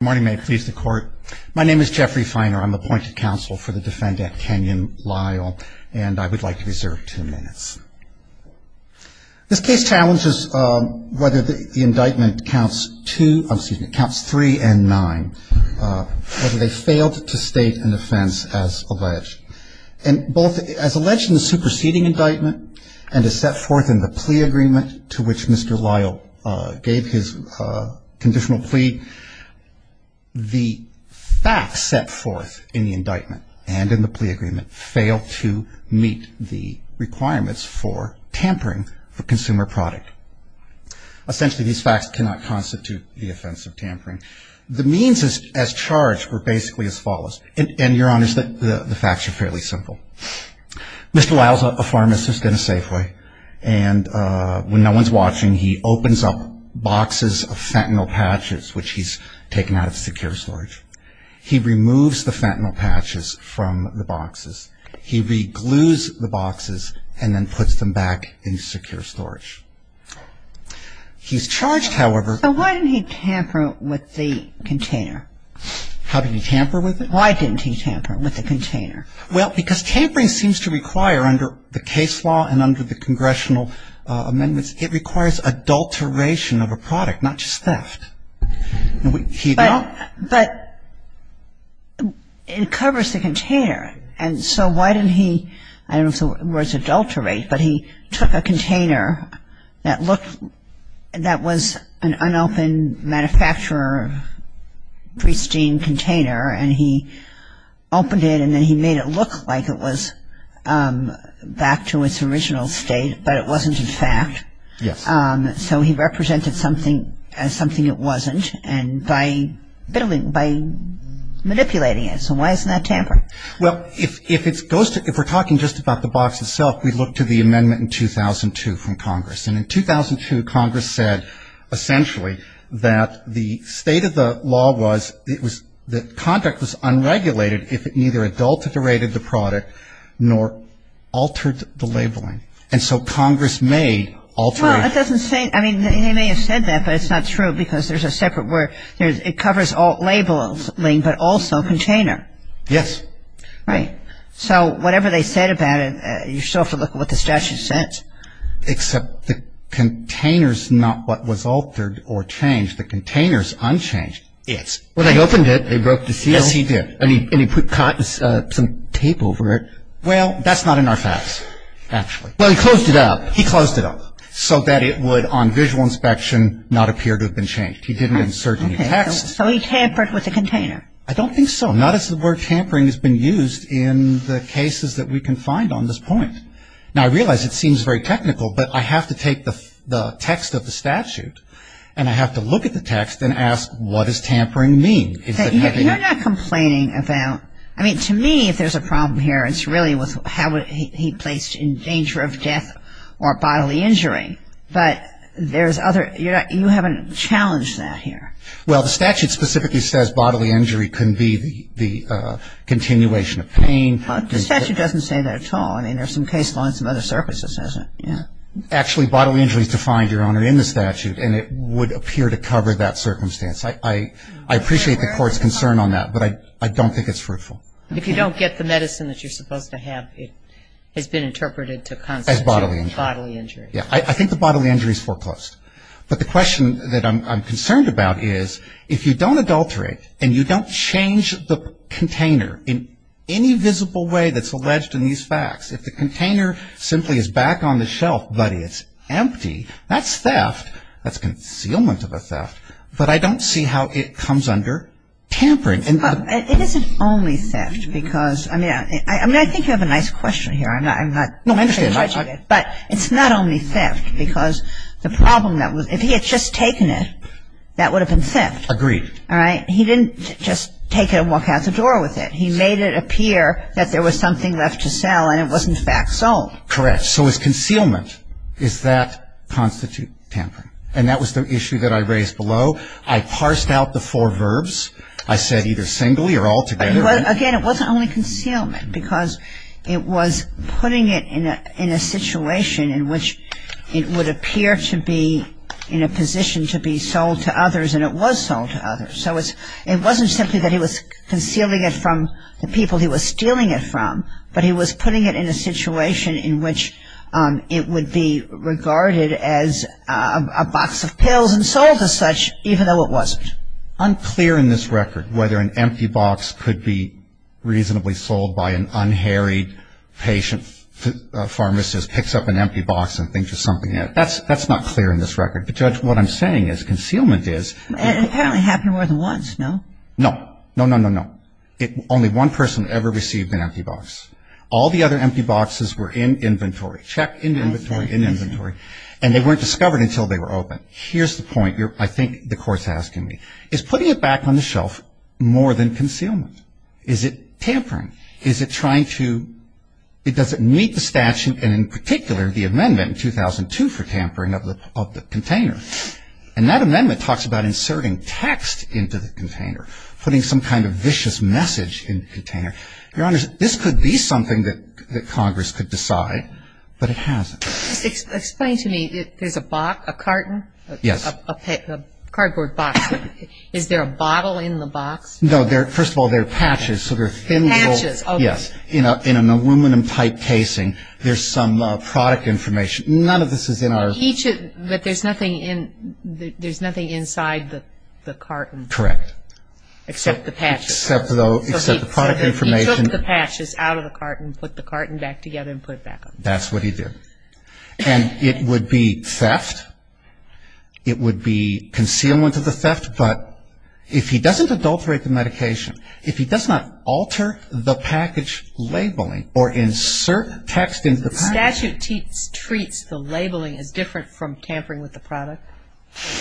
My name is Jeffrey Feiner. I'm appointed counsel for the defendant, Kenyon Lyle, and I would like to reserve two minutes. This case challenges whether the indictment counts three and nine, whether they failed to state an offense as alleged. As alleged in the superseding indictment and as set forth in the plea agreement to which Mr. Lyle gave his conditional plea, the facts set forth in the indictment and in the plea agreement fail to meet the requirements for tampering for consumer product. Essentially, these facts cannot constitute the offense of tampering. The means as charged were basically as follows, and Your Honor, the facts are fairly simple. Mr. Lyle's a pharmacist in a Safeway, and when no one's watching, he opens up boxes of fentanyl patches, which he's taken out of secure storage. He removes the fentanyl patches from the boxes. He reglues the boxes and then puts them back in secure storage. He's charged, however... So why didn't he tamper with the container? How did he tamper with it? Why didn't he tamper with the container? Well, because tampering seems to require, under the case law and under the congressional amendments, it requires adulteration of a product, not just theft. But it covers the container. And so why didn't he, I don't know if the word's adulterate, but he took a container that looked that was an unopened manufacturer of pristine container, and he opened it, and then he made it look like it was back to its original state, but it wasn't in fact. Yes. So he represented something as something it wasn't, and by manipulating it. So why isn't that tampering? Well, if it goes to, if we're talking just about the box itself, we look to the amendment in 2002 from Congress. And in 2002, Congress said essentially that the state of the law was it was, the contract was unregulated if it neither adulterated the product nor altered the labeling. And so Congress may alter it. Well, it doesn't say, I mean, they may have said that, but it's not true because there's a separate word. It covers labeling, but also container. Yes. Right. So whatever they said about it, you still have to look at what the statute says. Except the container's not what was altered or changed. The container's unchanged. Yes. Well, they opened it, they broke the seal. Yes, he did. And he put some tape over it. Well, that's not in our facts, actually. Well, he closed it up. He closed it up so that it would on visual inspection not appear to have been changed. He didn't insert any text. So he tampered with the container. I don't think so. Not as the word tampering has been used in the cases that we can find on this point. Now, I realize it seems very technical, but I have to take the text of the statute and I have to look at the text and ask what does tampering mean? You're not complaining about, I mean, to me, if there's a problem here, it's really how he placed in danger of death or bodily injury. But there's other, you haven't challenged that here. Well, the statute specifically says bodily injury can be the continuation of pain. The statute doesn't say that at all. I mean, there are some case lines and other surfaces, isn't there? Actually, bodily injury is defined, Your Honor, in the statute, and it would appear to cover that circumstance. I appreciate the Court's concern on that, but I don't think it's fruitful. If you don't get the medicine that you're supposed to have, it has been interpreted to constitute bodily injury. I think the bodily injury is foreclosed. But the question that I'm concerned about is if you don't adulterate and you don't change the container in any visible way that's alleged in these facts, if the container simply is back on the shelf, buddy, it's empty, that's theft. That's concealment of a theft. But I don't see how it comes under tampering. It isn't only theft because, I mean, I think you have a nice question here. No, I understand. But it's not only theft because the problem that was, if he had just taken it, that would have been theft. Agreed. All right? He didn't just take it and walk out the door with it. He made it appear that there was something left to sell and it was, in fact, sold. Correct. So it's concealment. Does that constitute tampering? And that was the issue that I raised below. I parsed out the four verbs. I said either singly or altogether. Again, it wasn't only concealment because it was putting it in a situation in which it would appear to be in a position to be sold to others and it was sold to others. So it wasn't simply that he was concealing it from the people he was stealing it from, but he was putting it in a situation in which it would be regarded as a box of pills and sold as such even though it wasn't. Unclear in this record whether an empty box could be reasonably sold by an unharied patient, a pharmacist picks up an empty box and thinks there's something in it. That's not clear in this record. But, Judge, what I'm saying is concealment is ñ It apparently happened more than once, no? No. No, no, no, no. Only one person ever received an empty box. All the other empty boxes were in inventory. Check, in inventory, in inventory. And they weren't discovered until they were open. Here's the point I think the Court's asking me. Is putting it back on the shelf more than concealment? Is it tampering? Is it trying to ñ does it meet the statute, and in particular the amendment in 2002 for tampering of the container? And that amendment talks about inserting text into the container, putting some kind of vicious message in the container. Your Honors, this could be something that Congress could decide, but it hasn't. Explain to me. There's a box, a carton? Yes. A cardboard box. Is there a bottle in the box? No. First of all, there are patches, so they're thin little ñ Patches, okay. Yes. In an aluminum-type casing, there's some product information. None of this is in our ñ But there's nothing inside the carton. Correct. Except the patches. Except the product information. So he took the patches out of the carton, put the carton back together, and put it back on the shelf. That's what he did. And it would be theft. It would be concealment of the theft. But if he doesn't adulterate the medication, if he does not alter the package labeling or insert text into the package ñ The statute treats the labeling as different from tampering with the product?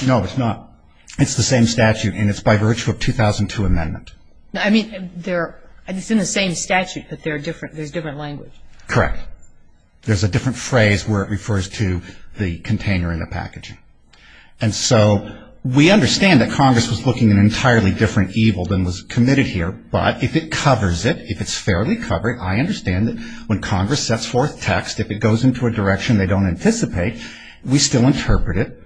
No, it's not. It's the same statute, and it's by virtue of 2002 amendment. I mean, it's in the same statute, but there's different language. Correct. There's a different phrase where it refers to the container and the packaging. And so we understand that Congress was looking at an entirely different evil than was committed here. But if it covers it, if it's fairly covered, I understand that when Congress sets forth text, if it goes into a direction they don't anticipate, we still interpret it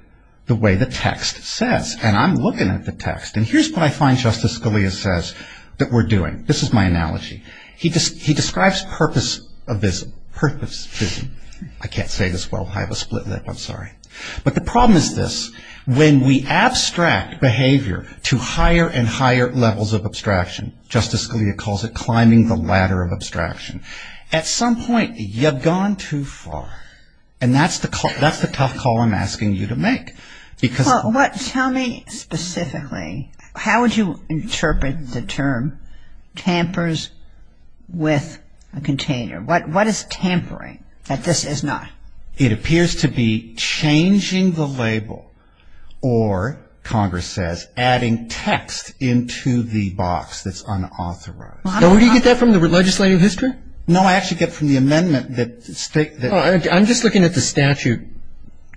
the way the text says. And I'm looking at the text. And here's what I find Justice Scalia says that we're doing. This is my analogy. He describes purpose of this purpose. I can't say this well. I have a split lip. I'm sorry. But the problem is this. When we abstract behavior to higher and higher levels of abstraction, Justice Scalia calls it climbing the ladder of abstraction, at some point you've gone too far. And that's the tough call I'm asking you to make. Well, tell me specifically how would you interpret the term tampers with a container? What is tampering that this is not? It appears to be changing the label or, Congress says, adding text into the box that's unauthorized. Now, where do you get that from? The legislative history? No, I actually get it from the amendment that states that. I'm just looking at the statute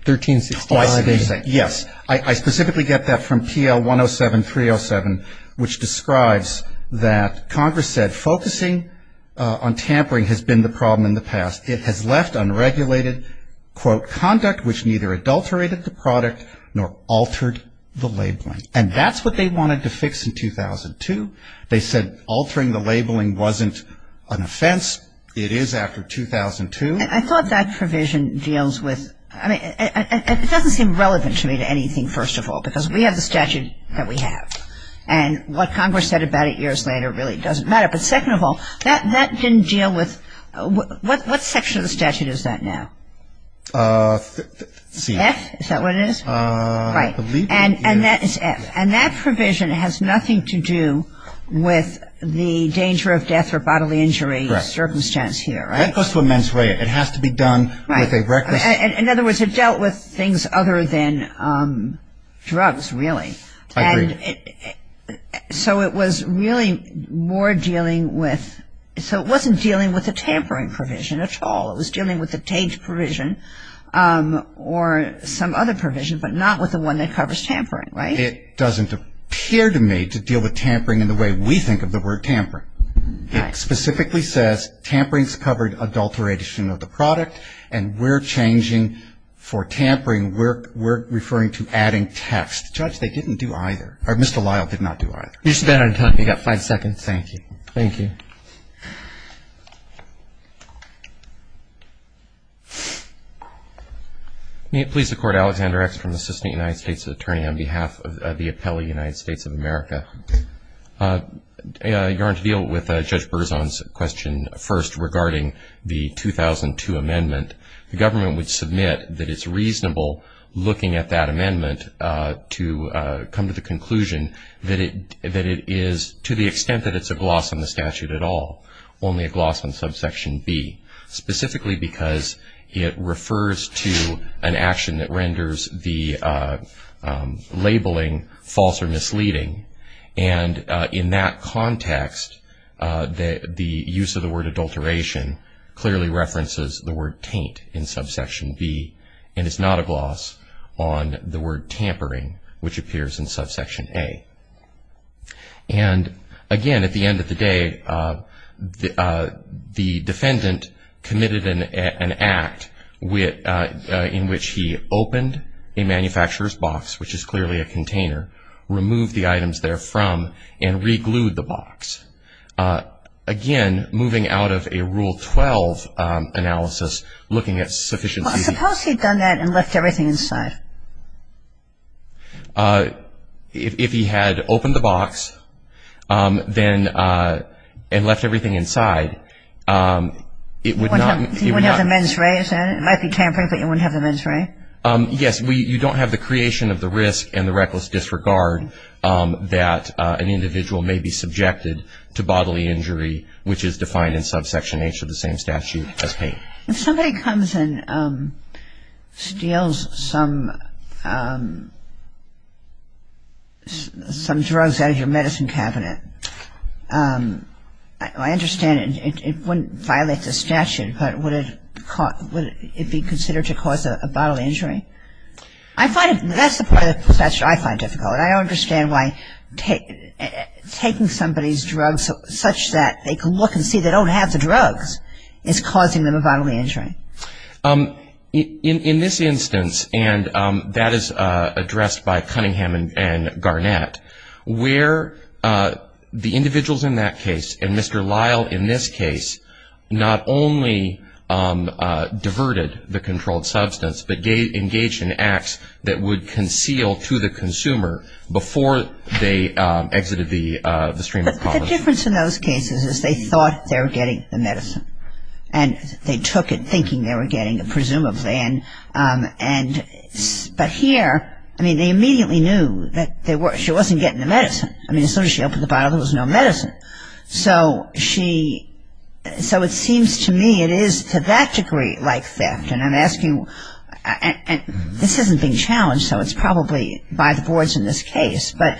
1365. Oh, I see what you're saying. Yes. I specifically get that from PL 107-307, which describes that Congress said focusing on tampering has been the problem in the past. It has left unregulated, quote, conduct which neither adulterated the product nor altered the labeling. And that's what they wanted to fix in 2002. They said altering the labeling wasn't an offense. It is after 2002. I thought that provision deals with, I mean, it doesn't seem relevant to me to anything, first of all, because we have the statute that we have. And what Congress said about it years later really doesn't matter. But second of all, that didn't deal with what section of the statute is that now? C. F? Is that what it is? Right. And that is F. And that provision has nothing to do with the danger of death or bodily injury circumstance here, right? That goes to a mens rea. It has to be done with a requisite. In other words, it dealt with things other than drugs, really. I agree. And so it was really more dealing with ‑‑ so it wasn't dealing with the tampering provision at all. It was dealing with the TAGE provision or some other provision, but not with the one that covers tampering, right? It doesn't appear to me to deal with tampering in the way we think of the word tampering. It specifically says tamperings covered adulteration of the product, and we're changing for tampering, we're referring to adding text. Judge, they didn't do either. Or Mr. Lyle did not do either. You've spent enough time. You've got five seconds. Thank you. Thank you. May it please the Court, Alexander X from the Assistant United States Attorney on behalf of the appellee, United States of America. You're on to deal with Judge Berzon's question first regarding the 2002 amendment. The government would submit that it's reasonable looking at that amendment to come to the conclusion that it is, to the extent that it's a gloss on the statute at all, only a gloss on subsection B, specifically because it refers to an action that renders the labeling false or misleading, and in that context, the use of the word adulteration clearly references the word taint in subsection B, and it's not a gloss on the word tampering, which appears in subsection A. And, again, at the end of the day, the defendant committed an act in which he opened a manufacturer's box, which is clearly a container, removed the items there from, and re-glued the box. Again, moving out of a Rule 12 analysis, looking at sufficiency. Well, suppose he'd done that and left everything inside? If he had opened the box and left everything inside, it would not... He wouldn't have the men's ray, is that it? It might be tampering, but you wouldn't have the men's ray? Yes, you don't have the creation of the risk and the reckless disregard that an individual may be subjected to bodily injury, which is defined in subsection H of the same statute as pain. If somebody comes and steals some drugs out of your medicine cabinet, I understand it wouldn't violate the statute, but would it be considered to cause a bodily injury? That's the part of the statute I find difficult. I don't understand why taking somebody's drugs such that they can look and see they don't have the drugs is causing them a bodily injury. In this instance, and that is addressed by Cunningham and Garnett, where the individuals in that case, and Mr. Lyle in this case, not only diverted the controlled substance, but engaged in acts that would conceal to the consumer before they exited the stream of conversation. But the difference in those cases is they thought they were getting the medicine, and they took it thinking they were getting it, presumably. But here, I mean, they immediately knew that she wasn't getting the medicine. I mean, as soon as she opened the bottle, there was no medicine. So she, so it seems to me it is to that degree like theft. And I'm asking, and this isn't being challenged, so it's probably by the boards in this case. But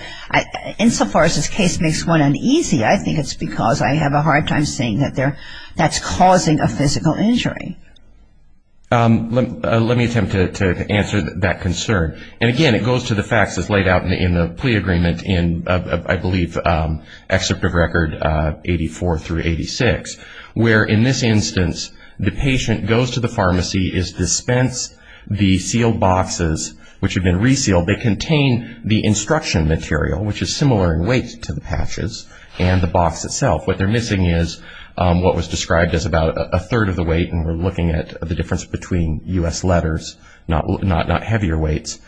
insofar as this case makes one uneasy, I think it's because I have a hard time seeing that that's causing a physical injury. Let me attempt to answer that concern. And again, it goes to the facts as laid out in the plea agreement in, I believe, Excerpt of Record 84 through 86, where in this instance, the patient goes to the pharmacy, is dispensed the sealed boxes, which have been resealed. They contain the instruction material, which is similar in weight to the patches, and the box itself. What they're missing is what was described as about a third of the weight, and we're looking at the difference between U.S. letters, not heavier weights.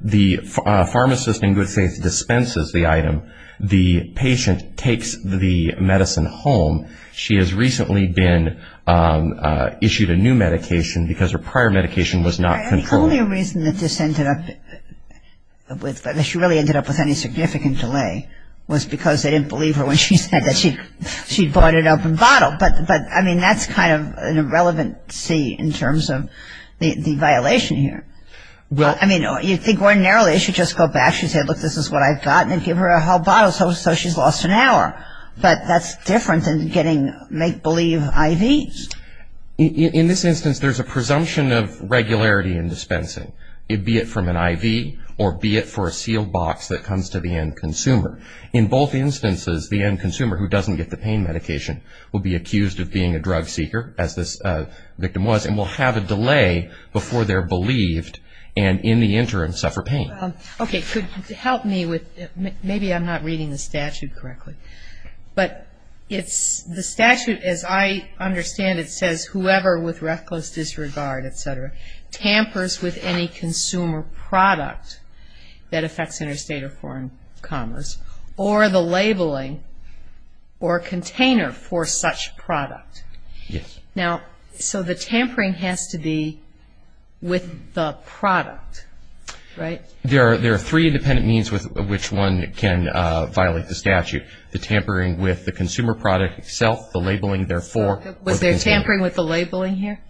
The pharmacist, in good faith, dispenses the item. The patient takes the medicine home. She has recently been issued a new medication because her prior medication was not controlled. The only reason that this ended up with, that she really ended up with any significant delay, was because they didn't believe her when she said that she'd bought an open bottle. But, I mean, that's kind of an irrelevancy in terms of the violation here. I mean, you think ordinarily she'd just go back, she'd say, look, this is what I've got, and give her a whole bottle, so she's lost an hour. But that's different than getting make-believe IV. In this instance, there's a presumption of regularity in dispensing, be it from an IV or be it for a sealed box that comes to the end consumer. In both instances, the end consumer, who doesn't get the pain medication, will be accused of being a drug seeker, as this victim was, and will have a delay before they're believed and, in the interim, suffer pain. Okay. Could you help me with, maybe I'm not reading the statute correctly. But it's, the statute, as I understand it, says, whoever with reckless disregard, et cetera, tampers with any consumer product that affects interstate or foreign commerce, or the labeling or container for such product. Yes. Now, so the tampering has to be with the product, right? There are three independent means with which one can violate the statute, the tampering with the consumer product itself, the labeling therefore. Was there tampering with the labeling here?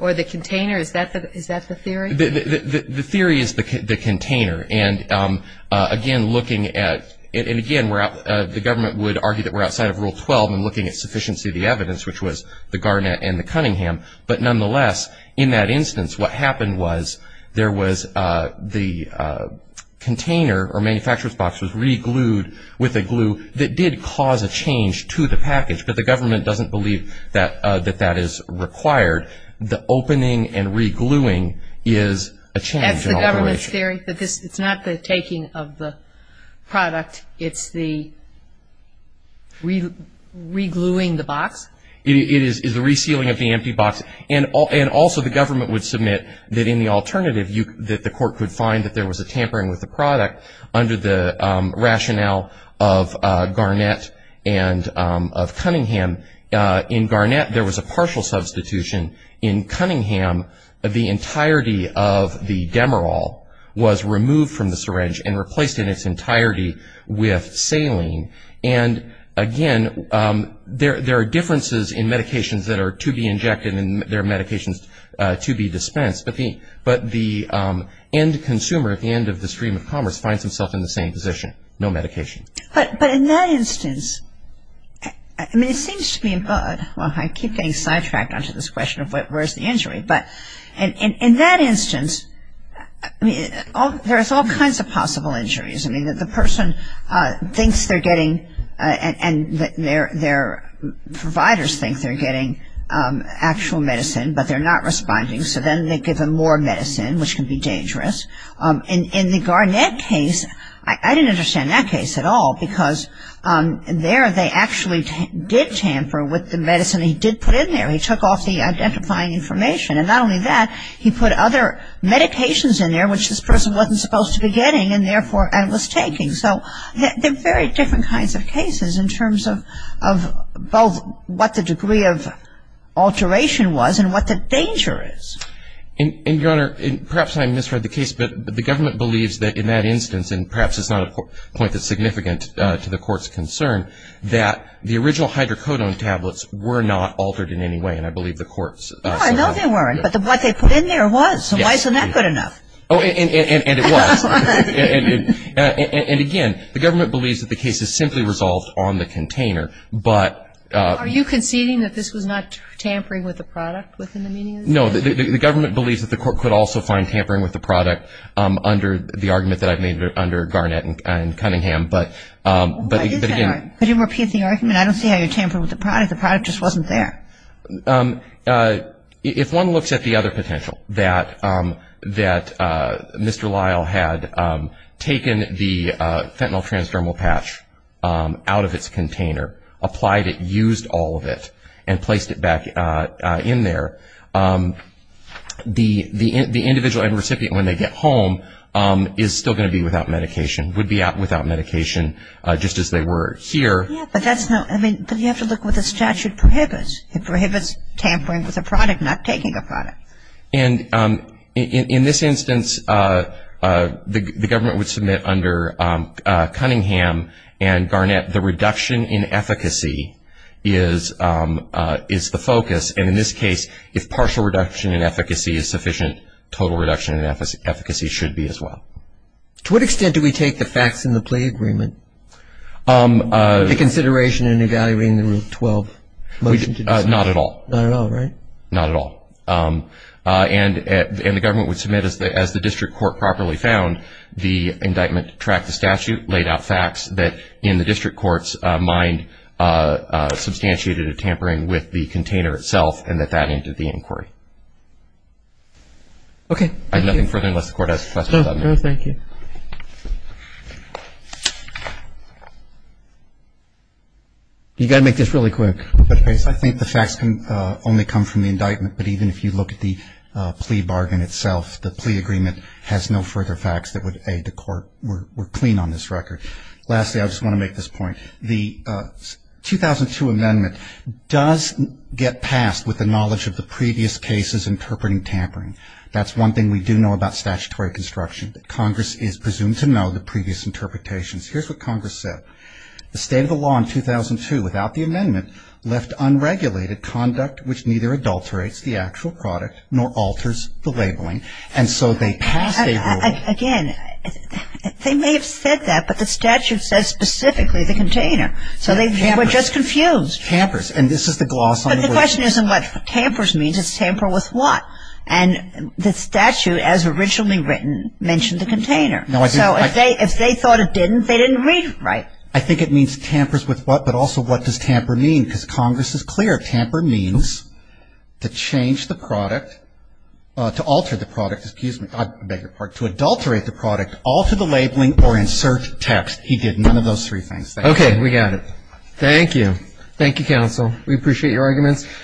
Or the container? Is that the theory? The theory is the container. And, again, looking at, and, again, the government would argue that we're outside of Rule 12 in looking at sufficiency of the evidence, which was the Garnett and the Cunningham. But, nonetheless, in that instance, what happened was there was the container or manufacturer's box was re-glued with a glue that did cause a change to the package, but the government doesn't believe that that is required. The opening and re-gluing is a change in operation. That's the government's theory, but it's not the taking of the product. It's the re-gluing the box? It is the resealing of the empty box. And also the government would submit that in the alternative, that the court could find that there was a tampering with the product under the rationale of Garnett and of Cunningham. In Garnett, there was a partial substitution. In Cunningham, the entirety of the Demerol was removed from the syringe and replaced in its entirety with saline. And, again, there are differences in medications that are to be injected and there are medications to be dispensed. But the end consumer at the end of the stream of commerce finds himself in the same position, no medication. But in that instance, I mean, it seems to me, well, I keep getting sidetracked onto this question of where's the injury. But in that instance, I mean, there's all kinds of possible injuries. I mean, the person thinks they're getting and their providers think they're getting actual medicine, but they're not responding. So then they give them more medicine, which can be dangerous. In the Garnett case, I didn't understand that case at all, because there they actually did tamper with the medicine he did put in there. He took off the identifying information. And not only that, he put other medications in there, which this person wasn't supposed to be getting and, therefore, was taking. So they're very different kinds of cases in terms of both what the degree of alteration was and what the danger is. And, Your Honor, perhaps I misread the case. But the government believes that in that instance, and perhaps it's not a point that's significant to the court's concern, that the original hydrocodone tablets were not altered in any way. And I believe the court said that. No, I know they weren't. But what they put in there was. So why isn't that good enough? And it was. And, again, the government believes that the case is simply resolved on the container. Are you conceding that this was not tampering with the product within the median? No. The government believes that the court could also find tampering with the product under the argument that I've made under Garnett and Cunningham. But, again. Could you repeat the argument? I don't see how you're tampering with the product. The product just wasn't there. If one looks at the other potential, that Mr. Lyle had taken the fentanyl transdermal patch out of its container, applied it, used all of it, and placed it back in there, the individual and recipient when they get home is still going to be without medication, would be without medication just as they were here. Yeah, but that's not. I mean, but you have to look what the statute prohibits. It prohibits tampering with a product, not taking a product. And in this instance, the government would submit under Cunningham and Garnett that the reduction in efficacy is the focus. And in this case, if partial reduction in efficacy is sufficient, total reduction in efficacy should be as well. To what extent do we take the facts in the plea agreement, the consideration in evaluating the Rule 12? Not at all. Not at all, right? Not at all. And the government would submit as the district court properly found the indictment to track the statute, laid out facts that in the district court's mind substantiated a tampering with the container itself and that that ended the inquiry. Okay. I have nothing further unless the Court has questions about that. No, thank you. You've got to make this really quick. I think the facts can only come from the indictment, but even if you look at the plea bargain itself, the plea agreement has no further facts that would aid the Court. We're clean on this record. Lastly, I just want to make this point. The 2002 amendment does get passed with the knowledge of the previous cases interpreting tampering. That's one thing we do know about statutory construction, that Congress is presumed to know the previous interpretations. Here's what Congress said. The state of the law in 2002, without the amendment, left unregulated conduct which neither adulterates the actual product nor alters the labeling. And so they passed a ruling. Again, they may have said that, but the statute says specifically the container. So they were just confused. Tampers. And this is the gloss on the word. But the question isn't what tampers means. It's tamper with what. And the statute, as originally written, mentioned the container. So if they thought it didn't, they didn't read it right. I think it means tampers with what, but also what does tamper mean? Because Congress is clear. Tamper means to change the product, to alter the product. Excuse me. I beg your pardon. To adulterate the product, alter the labeling, or insert text. He did none of those three things. Thank you. Okay. We got it. Thank you. Thank you, counsel.